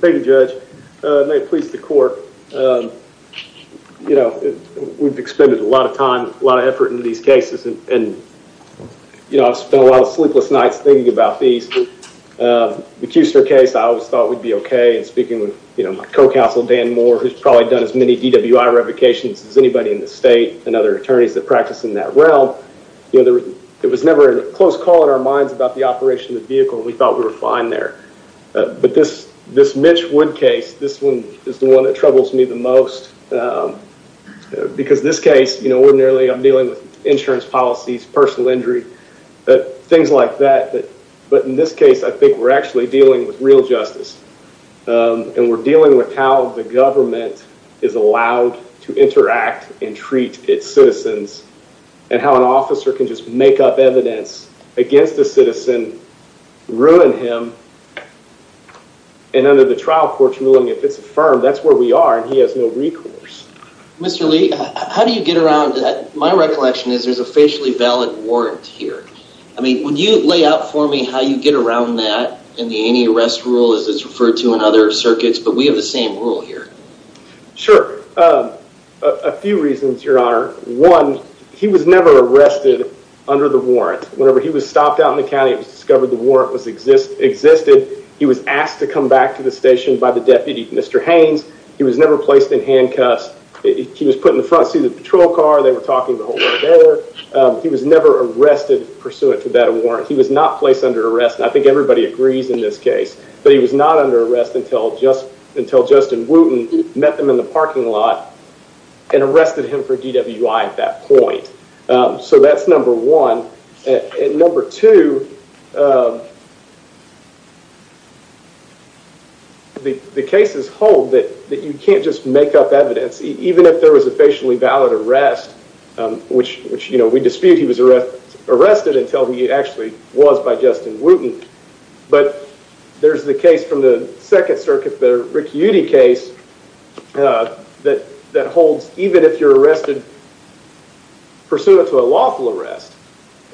Thank you, Judge. May it please the court, you know, we've expended a lot of time, a lot of effort into these cases and, you know, I've spent a lot of sleepless nights thinking about these. The Kuster case, I always thought we'd be okay and speaking with, you know, my co-counsel, Dan Moore, who's probably done as many DWI revocations as anybody in the state and other attorneys that practice in that realm. You know, there was never a close call in our minds about the operation of the vehicle and we thought we were fine there. But this Mitch Wood case, this one is the one that troubles me the most because this case, you know, ordinarily I'm dealing with insurance policies, personal injury, things like that. But in this case, I think we're actually dealing with real justice and we're dealing with how the government is allowed to interact and treat its citizens and how an officer can just make up evidence against a citizen, ruin him, and under the trial court's ruling, if it's affirmed, that's where we are and he has no recourse. Mr. Lee, how do you get around that? My recollection is there's a facially valid warrant here. I mean, would you lay out for me how you get around that and the anti-arrest rule as it's referred to in other circuits, but we have the same rule here. Sure. A few reasons, Your Honor. One, he was never arrested under the warrant. Whenever he was stopped out in the county, it was discovered the warrant existed. He was asked to come back to the station by the deputy, Mr. Haynes. He was never placed in handcuffs. He was put in the front seat of the patrol car. They were talking the whole way there. He was never arrested pursuant to that warrant. He was not placed under arrest. I think everybody agrees in this case that he was not under arrest until Justin Wooten met them in the parking lot and arrested him for DWI at that point. So that's number one. Number two, the cases hold that you can't just make up evidence, even if there was a facially valid arrest, which we dispute he was arrested until he actually was by Justin Wooten. But there's the case from the Second Circuit, the Rick Yudy case, that holds even if you're arrested pursuant to a lawful arrest,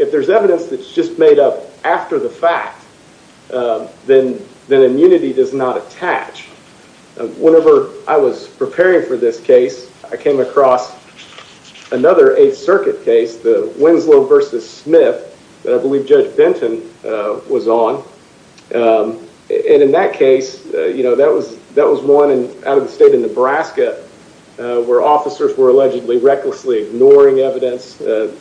if there's evidence that's just made up after the fact, then immunity does not attach. Whenever I was preparing for this case, I came across another Eighth Circuit case, the Winslow v. Smith, that I believe Judge Benton was on. In that case, that was one out of the state of Nebraska where officers were allegedly recklessly ignoring evidence that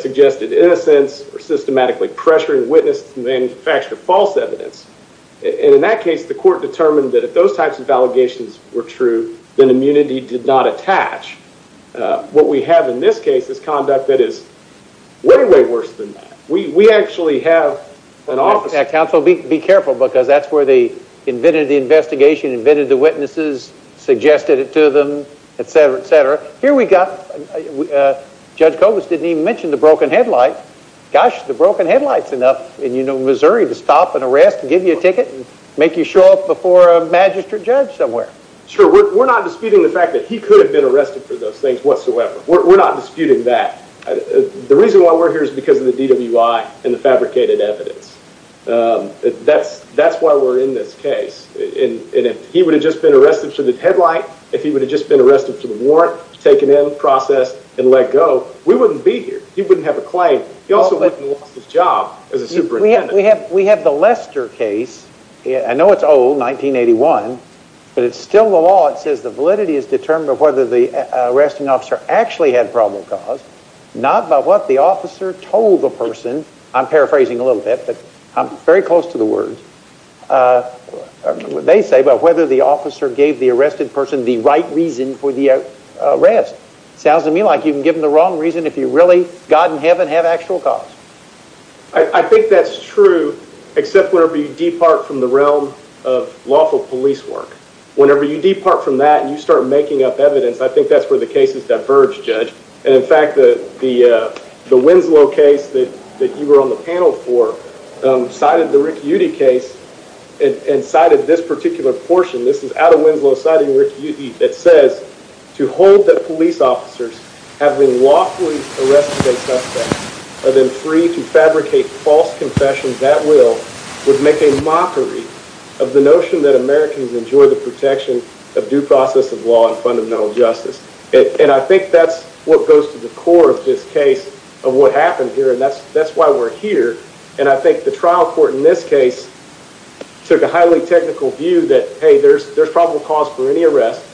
suggested innocence or systematically pressuring witnesses to manufacture false evidence. In that case, the court determined that if those types of allegations were true, then immunity did not attach. What we have in this case is conduct that is way, way worse than that. We actually have an officer... Gosh, the broken headlight's enough in Missouri to stop an arrest and give you a ticket and make you show up before a magistrate judge somewhere. Sure. We're not disputing the fact that he could have been arrested for those things whatsoever. We're not disputing that. The reason why we're here is because of the DWI and the fabricated evidence. That's why we're in this case. If he would have just been arrested for the headlight, if he would have just been arrested for the warrant, taken in, processed, and let go, we wouldn't be here. He wouldn't have a claim. He also wouldn't have lost his job as a superintendent. We have the Lester case. I know it's old, 1981, but it's still the law. It says the validity is determined by whether the arresting officer actually had probable cause, not by what the officer told the person. I'm paraphrasing a little bit, but I'm very close to the words. I don't know what they say, but whether the officer gave the arrested person the right reason for the arrest. Sounds to me like you can give them the wrong reason if you really, God and heaven, have actual cause. I think that's true, except whenever you depart from the realm of lawful police work. Whenever you depart from that and you start making up evidence, I think that's where the cases diverge, Judge. In fact, the Winslow case that you were on the panel for cited the Rick Yudy case and cited this particular portion. This is out of Winslow citing Rick Yudy that says, And I think that's what goes to the core of this case of what happened here, and that's why we're here. And I think the trial court in this case took a highly technical view that, hey, there's probable cause for any arrest.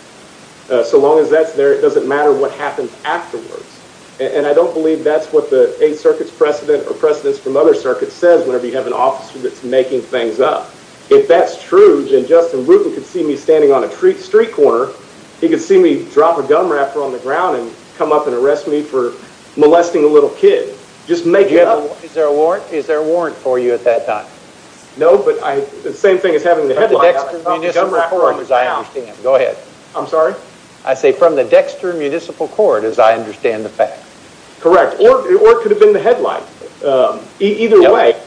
So long as that's there, it doesn't matter what happens afterwards. And I don't believe that's what the Eighth Circuit's precedent or precedents from other circuits says whenever you have an officer that's making things up. If that's true, then Justin Bruton could see me standing on a street corner, he could see me drop a gum wrapper on the ground and come up and arrest me for molesting a little kid. Is there a warrant for you at that time? No, but the same thing as having the headline. From the Dexter Municipal Court, as I understand. Go ahead. I'm sorry? I say from the Dexter Municipal Court, as I understand the fact. Correct. Or it could have been the headline. Either way.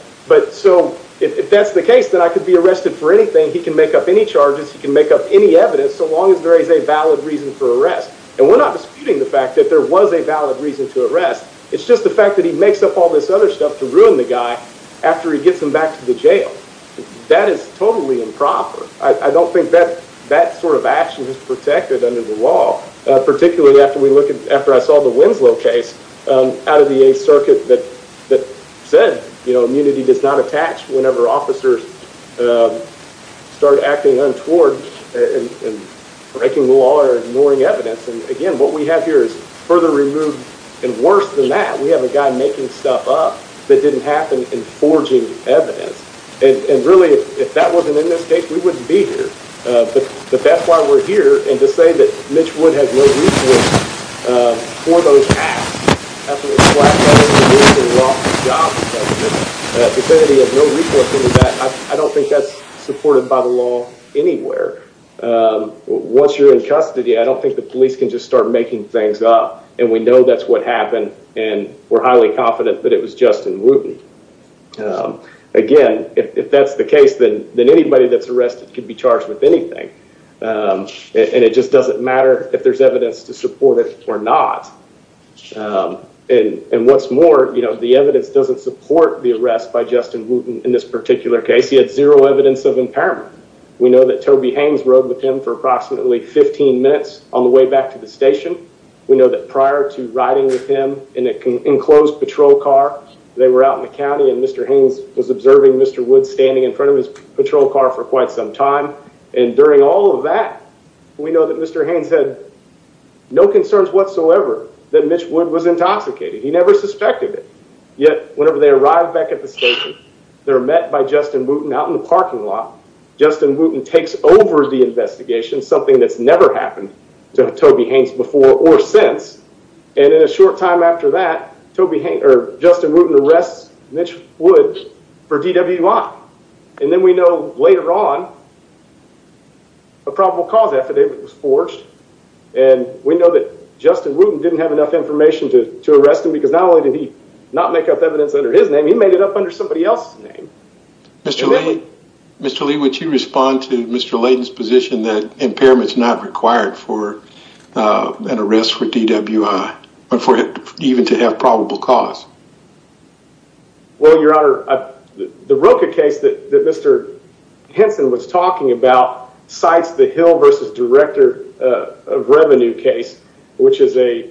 So if that's the case, then I could be arrested for anything. He can make up any charges, he can make up any evidence, so long as there is a valid reason for arrest. And we're not disputing the fact that there was a valid reason to arrest, it's just the fact that he makes up all this other stuff to ruin the guy after he gets him back to the jail. That is totally improper. I don't think that sort of action is protected under the law. Particularly after I saw the Winslow case out of the 8th Circuit that said immunity does not attach whenever officers start acting untoward and breaking the law or ignoring evidence. And again, what we have here is further removed. And worse than that, we have a guy making stuff up that didn't happen and forging evidence. And really, if that wasn't in this case, we wouldn't be here. But that's why we're here. And to say that Mitch Wood has no recourse for those acts, absolutely flat-out is completely off the job. To say that he has no recourse for that, I don't think that's supported by the law anywhere. Once you're in custody, I don't think the police can just start making things up. And we know that's what happened, and we're highly confident that it was Justin Wooten. Again, if that's the case, then anybody that's arrested can be charged with anything. And it just doesn't matter if there's evidence to support it or not. And what's more, the evidence doesn't support the arrest by Justin Wooten in this particular case. He had zero evidence of impairment. We know that Toby Haynes rode with him for approximately 15 minutes on the way back to the station. We know that prior to riding with him in an enclosed patrol car, they were out in the county and Mr. Haynes was observing Mr. Wood standing in front of his patrol car for quite some time. And during all of that, we know that Mr. Haynes had no concerns whatsoever that Mitch Wood was intoxicated. He never suspected it. Yet, whenever they arrive back at the station, they're met by Justin Wooten out in the parking lot. Justin Wooten takes over the investigation, something that's never happened to Toby Haynes before or since. And in a short time after that, Justin Wooten arrests Mitch Wood for DWI. And then we know later on a probable cause affidavit was forged. And we know that Justin Wooten didn't have enough information to arrest him because not only did he not make up evidence under his name, he made it up under somebody else's name. Mr. Lee, would you respond to Mr. Layden's position that impairment is not required for an arrest for DWI, even to have probable cause? Well, Your Honor, the Roka case that Mr. Henson was talking about cites the Hill v. Director of Revenue case, which is a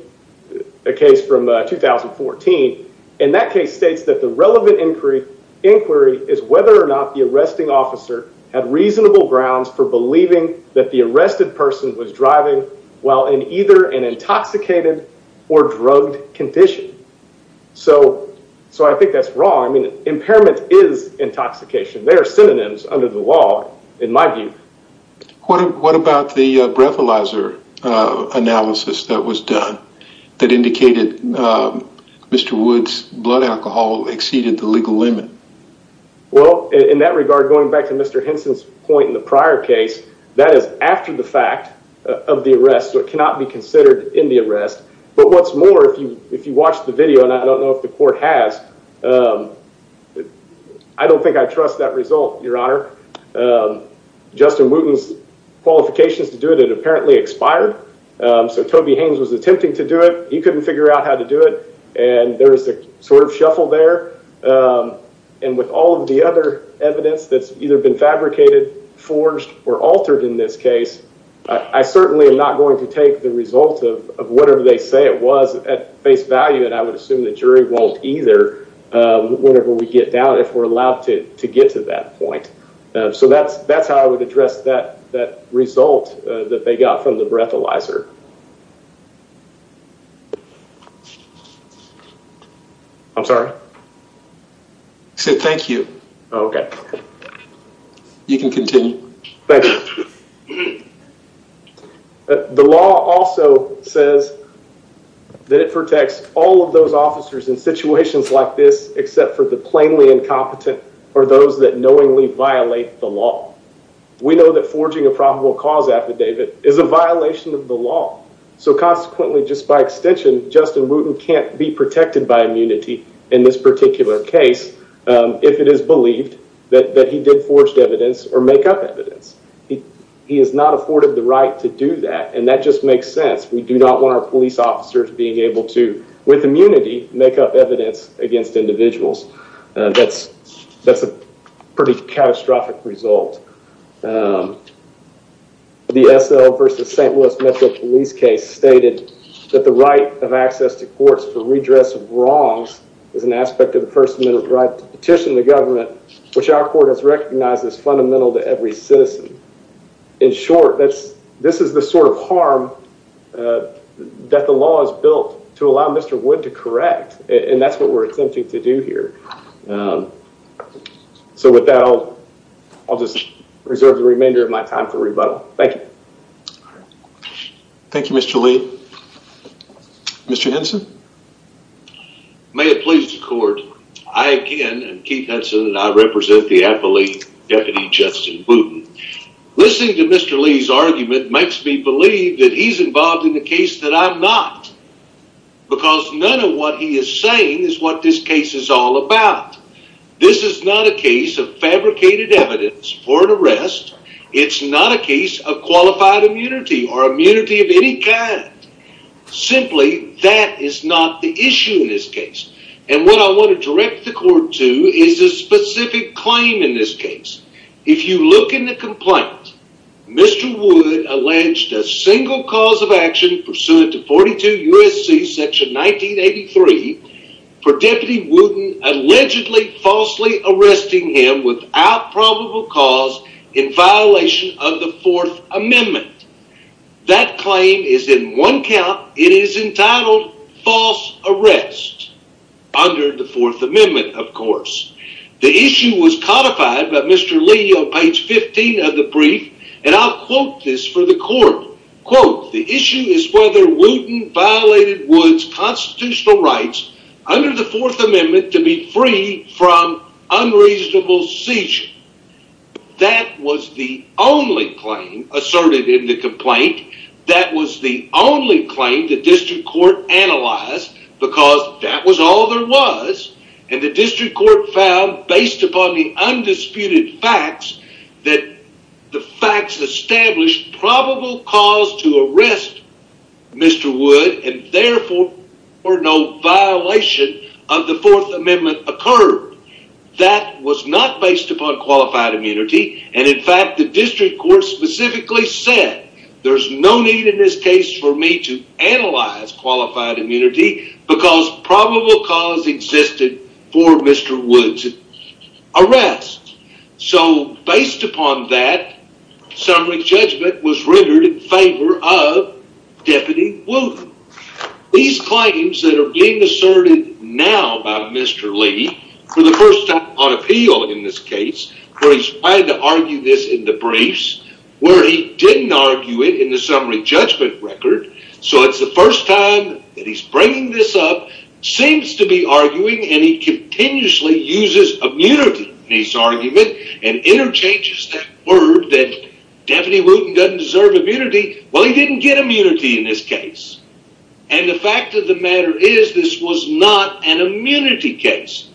case from 2014. And that case states that the relevant inquiry is whether or not the arresting officer had reasonable grounds for believing that the arrested person was driving while in either an intoxicated or drugged condition. So I think that's wrong. I mean, impairment is intoxication. There are synonyms under the law, in my view. What about the breathalyzer analysis that was done that indicated Mr. Wood's blood alcohol exceeded the legal limit? Well, in that regard, going back to Mr. Henson's point in the prior case, that is after the fact of the arrest. So it cannot be considered in the arrest. But what's more, if you if you watch the video and I don't know if the court has. I don't think I trust that result, Your Honor. Justin Wooten's qualifications to do it and apparently expired. So Toby Haynes was attempting to do it. He couldn't figure out how to do it. And there is a sort of shuffle there. And with all of the other evidence that's either been fabricated, forged or altered in this case, I certainly am not going to take the result of whatever they say it was at face value. And I would assume the jury won't either. Whenever we get down, if we're allowed to get to that point. So that's that's how I would address that. That result that they got from the breathalyzer. I'm sorry. Thank you. OK, you can continue. The law also says that it protects all of those officers in situations like this, or those that knowingly violate the law. We know that forging a probable cause affidavit is a violation of the law. So consequently, just by extension, Justin Wooten can't be protected by immunity in this particular case. If it is believed that he did forged evidence or make up evidence, he he is not afforded the right to do that. And that just makes sense. We do not want our police officers being able to, with immunity, make up evidence against individuals. And that's that's a pretty catastrophic result. The S.L. versus St. Louis Metro Police case stated that the right of access to courts for redress of wrongs is an aspect of the first amendment right to petition the government, which our court has recognized as fundamental to every citizen. In short, that's this is the sort of harm that the law is built to allow Mr. Wood to correct. And that's what we're attempting to do here. So with that, I'll just reserve the remainder of my time for rebuttal. Thank you. Thank you, Mr. Lee. Mr. Henson. May it please the court. I, again, and Keith Hudson and I represent the affiliate deputy Justin Wooten. Listening to Mr. Lee's argument makes me believe that he's involved in the case that I'm not, because none of what he is saying is what this case is all about. This is not a case of fabricated evidence for an arrest. It's not a case of qualified immunity or immunity of any kind. Simply, that is not the issue in this case. And what I want to direct the court to is a specific claim in this case. If you look in the complaint, Mr. Wood alleged a single cause of action pursuant to 42 U.S.C. section 1983 for Deputy Wooten allegedly falsely arresting him without probable cause in violation of the Fourth Amendment. That claim is in one count. It is entitled false arrest under the Fourth Amendment. The issue was codified by Mr. Lee on page 15 of the brief, and I'll quote this for the court. The issue is whether Wooten violated Wood's constitutional rights under the Fourth Amendment to be free from unreasonable seizure. That was the only claim asserted in the complaint. That was the only claim the district court analyzed, because that was all there was. And the district court found, based upon the undisputed facts, that the facts established probable cause to arrest Mr. Wood and therefore no violation of the Fourth Amendment occurred. That was not based upon qualified immunity, and in fact the district court specifically said there's no need in this case for me to analyze qualified immunity because probable cause existed for Mr. Wood's arrest. So based upon that, summary judgment was rendered in favor of Deputy Wooten. These claims that are being asserted now by Mr. Lee for the first time on appeal in this case, where he's tried to argue this in the briefs, where he didn't argue it in the summary judgment record. So it's the first time that he's bringing this up, seems to be arguing, and he continuously uses immunity in his argument and interchanges that word that Deputy Wooten doesn't deserve immunity. Well, he didn't get immunity in this case, and the fact of the matter is this was not an immunity case.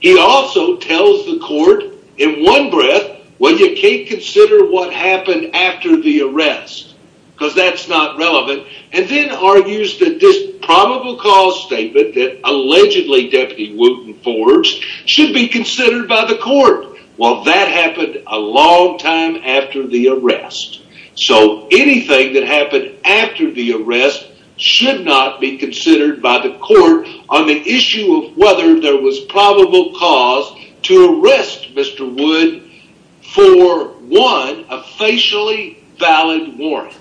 He also tells the court in one breath, well, you can't consider what happened after the arrest, because that's not relevant, and then argues that this probable cause statement that allegedly Deputy Wooten forged should be considered by the court. Well, that happened a long time after the arrest, so anything that happened after the arrest should not be considered by the court on the issue of whether there was probable cause to arrest Mr. Wood for, one, a facially valid warrant.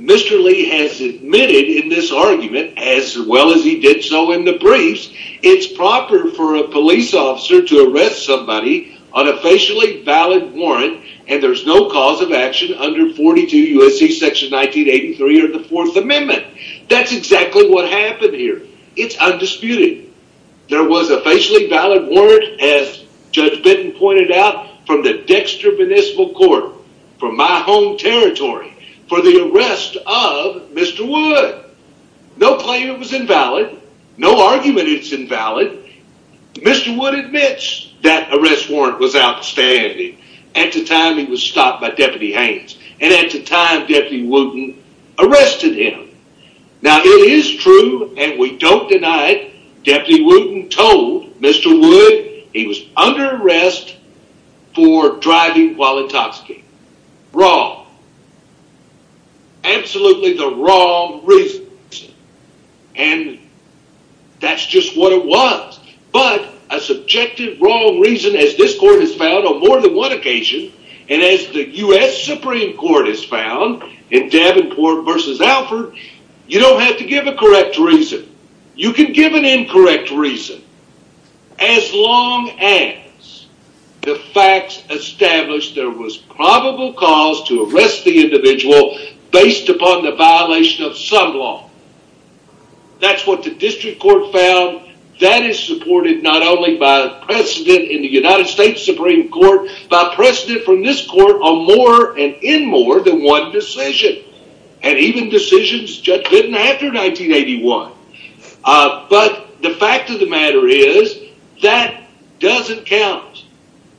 Mr. Lee has admitted in this argument, as well as he did so in the briefs, it's proper for a police officer to arrest somebody on a facially valid warrant, and there's no cause of action under 42 U.S.C. Section 1983 or the Fourth Amendment. That's exactly what happened here. It's undisputed. There was a facially valid warrant, as Judge Benton pointed out, from the Dexter Municipal Court, from my home territory, for the arrest of Mr. Wood. No claim was invalid. No argument is invalid. Mr. Wood admits that arrest warrant was outstanding at the time he was stopped by Deputy Haynes and at the time Deputy Wooten arrested him. Now, it is true, and we don't deny it, Deputy Wooten told Mr. Wood he was under arrest for driving while intoxicated. Wrong. Absolutely the wrong reason. And that's just what it was. But a subjective wrong reason, as this court has found on more than one occasion, and as the U.S. Supreme Court has found in Davenport v. Alford, you don't have to give a correct reason. You can give an incorrect reason as long as the facts establish there was probable cause to arrest the individual based upon the violation of some law. That's what the district court found. That is supported not only by precedent in the United States Supreme Court, but precedent from this court on more and in more than one decision, and even decisions Judge Benton after 1981. But the fact of the matter is, that doesn't count.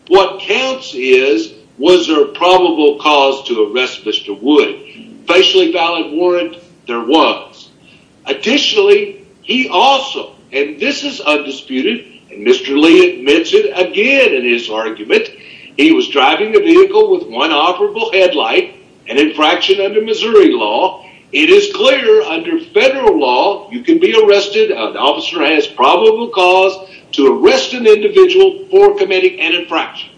What counts is, was there a probable cause to arrest Mr. Wood. Facially valid warrant, there was. Additionally, he also, and this is undisputed, and Mr. Lee admits it again in his argument, he was driving a vehicle with one operable headlight, an infraction under Missouri law. It is clear under federal law, you can be arrested, an officer has probable cause to arrest an individual for committing an infraction.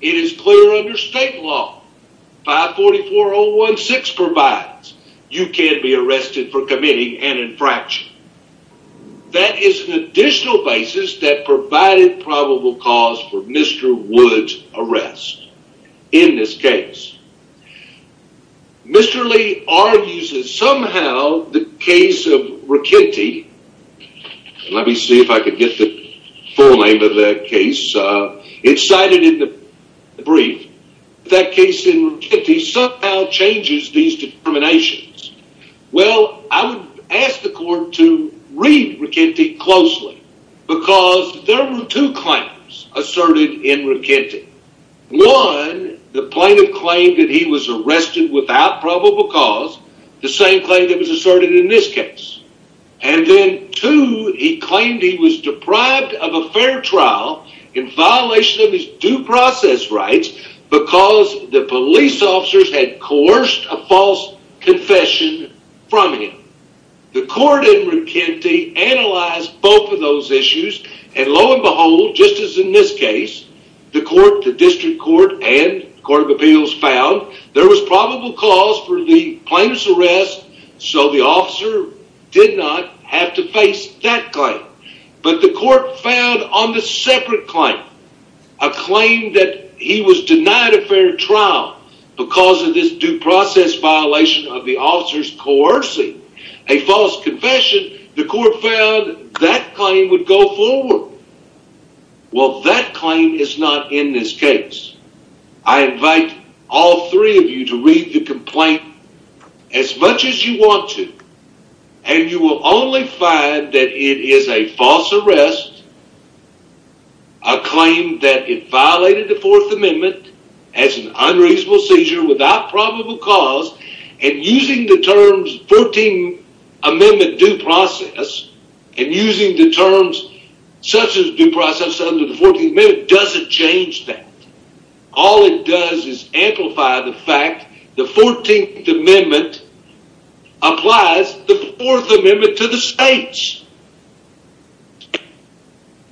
It is clear under state law, 544.016 provides, you can be arrested for committing an infraction. That is an additional basis that provided probable cause for Mr. Wood's arrest in this case. Mr. Lee argues that somehow the case of Ricchetti, let me see if I can get the full name of that case, it's cited in the brief, that case in Ricchetti somehow changes these determinations. Well, I would ask the court to read Ricchetti closely, because there were two claims asserted in Ricchetti. One, the plaintiff claimed that he was arrested without probable cause, the same claim that was asserted in this case. And then two, he claimed he was deprived of a fair trial in violation of his due process rights because the police officers had coerced a false confession from him. The court in Ricchetti analyzed both of those issues, and lo and behold, just as in this case, the district court and court of appeals found there was probable cause for the plaintiff's arrest, so the officer did not have to face that claim. But the court found on the separate claim, a claim that he was denied a fair trial because of this due process violation of the officer's coercing a false confession, the court found that claim would go forward. Well, that claim is not in this case. I invite all three of you to read the complaint as much as you want to, and you will only find that it is a false arrest, a claim that it violated the Fourth Amendment as an unreasonable seizure without probable cause, and using the terms 14th Amendment due process and using the terms such as due process under the 14th Amendment doesn't change that. All it does is amplify the fact the 14th Amendment applies the Fourth Amendment to the states.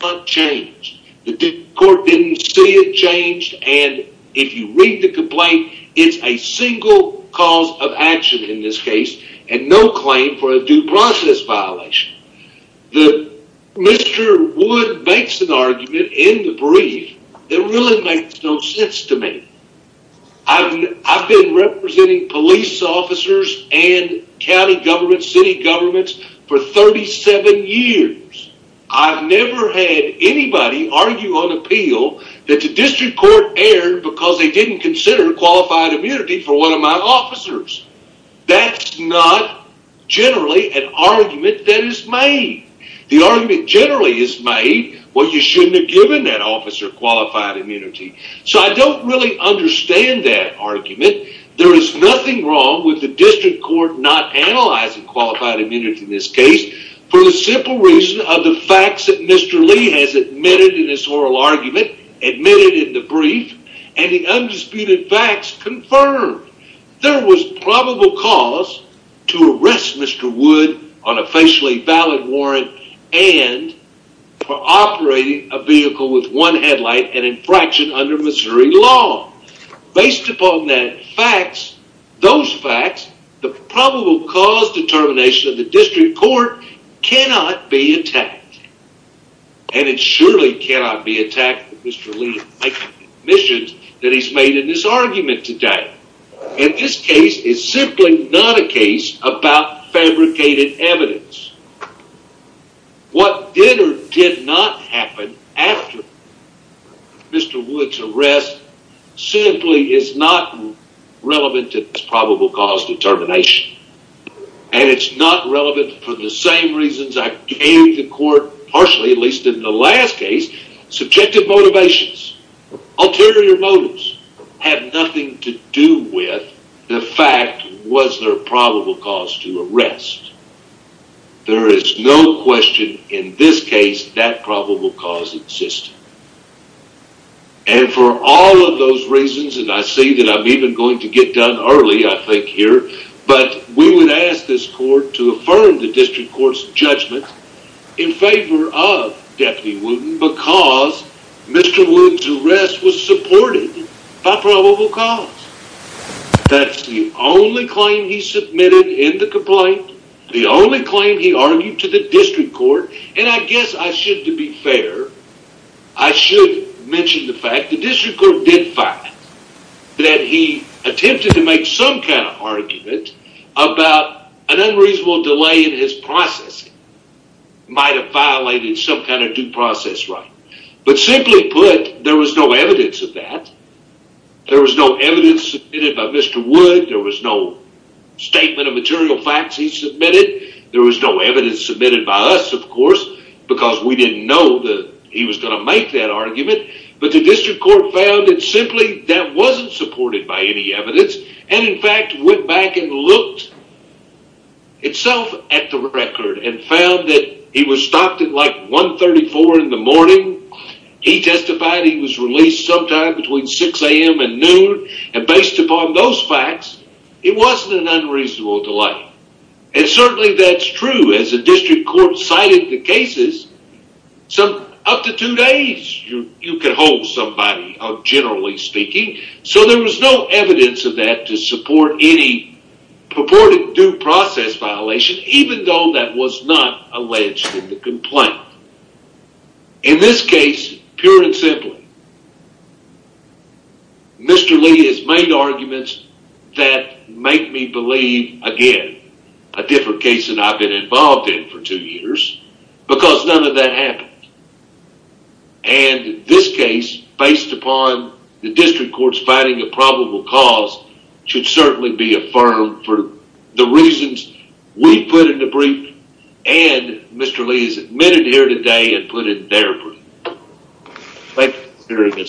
The court didn't see it change, and if you read the complaint, it's a single cause of action in this case and no claim for a due process violation. Mr. Wood makes an argument in the brief that really makes no sense to me. I've been representing police officers and county governments, city governments for 37 years. I've never had anybody argue on appeal that the district court erred because they didn't consider qualified immunity for one of my officers. That's not generally an argument that is made. The argument generally is made, well, you shouldn't have given that officer qualified immunity, so I don't really understand that argument. There is nothing wrong with the district court not analyzing qualified immunity in this case for the simple reason of the facts that Mr. Lee has admitted in his oral argument, admitted in the brief, and the undisputed facts confirmed. There was probable cause to arrest Mr. Wood on a facially valid warrant and for operating a vehicle with one headlight, an infraction under Missouri law. Based upon those facts, the probable cause determination of the district court cannot be attacked. And it surely cannot be attacked that Mr. Lee is making admissions that he's made in this argument today. And this case is simply not a case about fabricated evidence. What did or did not happen after Mr. Wood's arrest simply is not relevant to this probable cause determination. And it's not relevant for the same reasons I gave the court partially, at least in the last case. Subjective motivations, ulterior motives have nothing to do with the fact was there a probable cause to arrest. There is no question in this case that probable cause existed. And for all of those reasons, and I see that I'm even going to get done early I think here, but we would ask this court to affirm the district court's judgment in favor of Deputy Wooten because Mr. Wood's arrest was supported by probable cause. That's the only claim he submitted in the complaint. The only claim he argued to the district court. And I guess I should, to be fair, I should mention the fact the district court did find that he attempted to make some kind of argument about an unreasonable delay in his processing. Might have violated some kind of due process right. But simply put, there was no evidence of that. There was no evidence submitted by Mr. Wood. There was no statement of material facts he submitted. There was no evidence submitted by us, of course, because we didn't know that he was going to make that argument. But the district court found it simply that wasn't supported by any evidence and in fact went back and looked itself at the record and found that he was stopped at like 1.34 in the morning. He testified he was released sometime between 6 a.m. and noon. And based upon those facts, it wasn't an unreasonable delay. And certainly that's true. As the district court cited the cases, up to two days you could hold somebody, generally speaking. So there was no evidence of that to support any purported due process violation, even though that was not alleged in the complaint. In this case, pure and simple, Mr. Lee has made arguments that make me believe, again, a different case than I've been involved in for two years, because none of that happened. And this case, based upon the district court's finding a probable cause, should certainly be affirmed for the reasons we put in the brief and Mr. Lee is admitted here today and put in their brief. Thank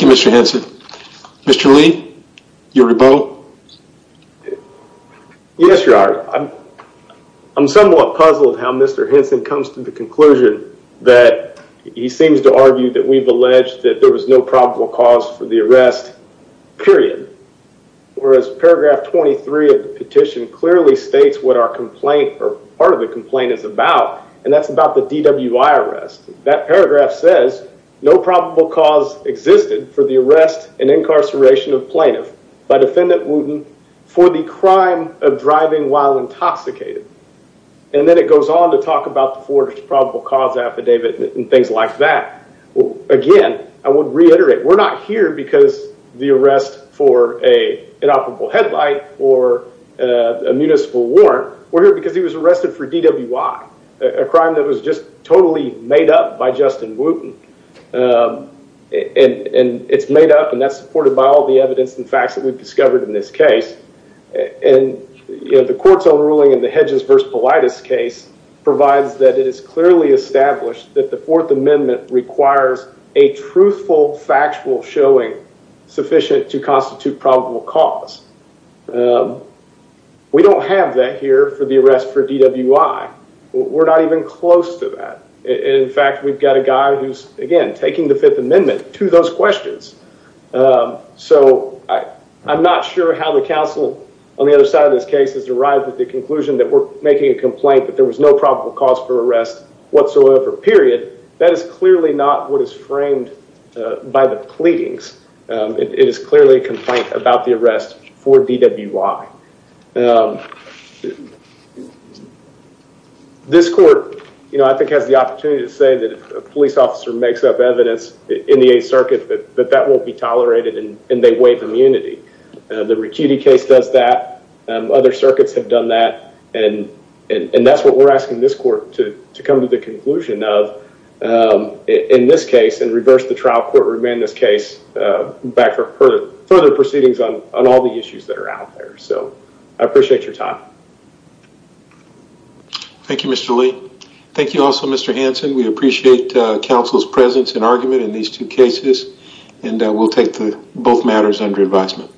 you, Mr. Hanson. Mr. Lee, your rebuttal? Yes, Your Honor. I'm somewhat puzzled how Mr. Hanson comes to the conclusion that he seems to argue that we've alleged that there was no probable cause for the arrest, period. Whereas paragraph 23 of the petition clearly states what our complaint, or part of the complaint is about, and that's about the DWI arrest. That paragraph says, no probable cause existed for the arrest and incarceration of plaintiff by defendant Wooten for the crime of driving while intoxicated. And then it goes on to talk about the forwarded probable cause affidavit and things like that. Again, I would reiterate, we're not here because the arrest for an inoperable headlight or a municipal warrant. We're here because he was arrested for DWI, a crime that was just totally made up by Justin Wooten. And it's made up and that's supported by all the evidence and facts that we've discovered in this case. And the court's own ruling in the Hedges v. Politis case provides that it is clearly established that the Fourth Amendment requires a truthful, factual showing sufficient to constitute probable cause. We don't have that here for the arrest for DWI. We're not even close to that. In fact, we've got a guy who's, again, taking the Fifth Amendment to those questions. So I'm not sure how the counsel on the other side of this case has arrived at the conclusion that we're making a complaint that there was no probable cause for arrest whatsoever, period. That is clearly not what is framed by the pleadings. It is clearly a complaint about the arrest for DWI. This court, you know, I think has the opportunity to say that if a police officer makes up evidence in the Eighth Circuit that that won't be tolerated and they waive immunity. The Ricchetti case does that. Other circuits have done that. And that's what we're asking this court to come to the conclusion of in this case and reverse the trial. We're asking this court to bring this case back for further proceedings on all the issues that are out there. So I appreciate your time. Thank you, Mr. Lee. Thank you also, Mr. Hanson. We appreciate counsel's presence and argument in these two cases. And we'll take both matters under advisement.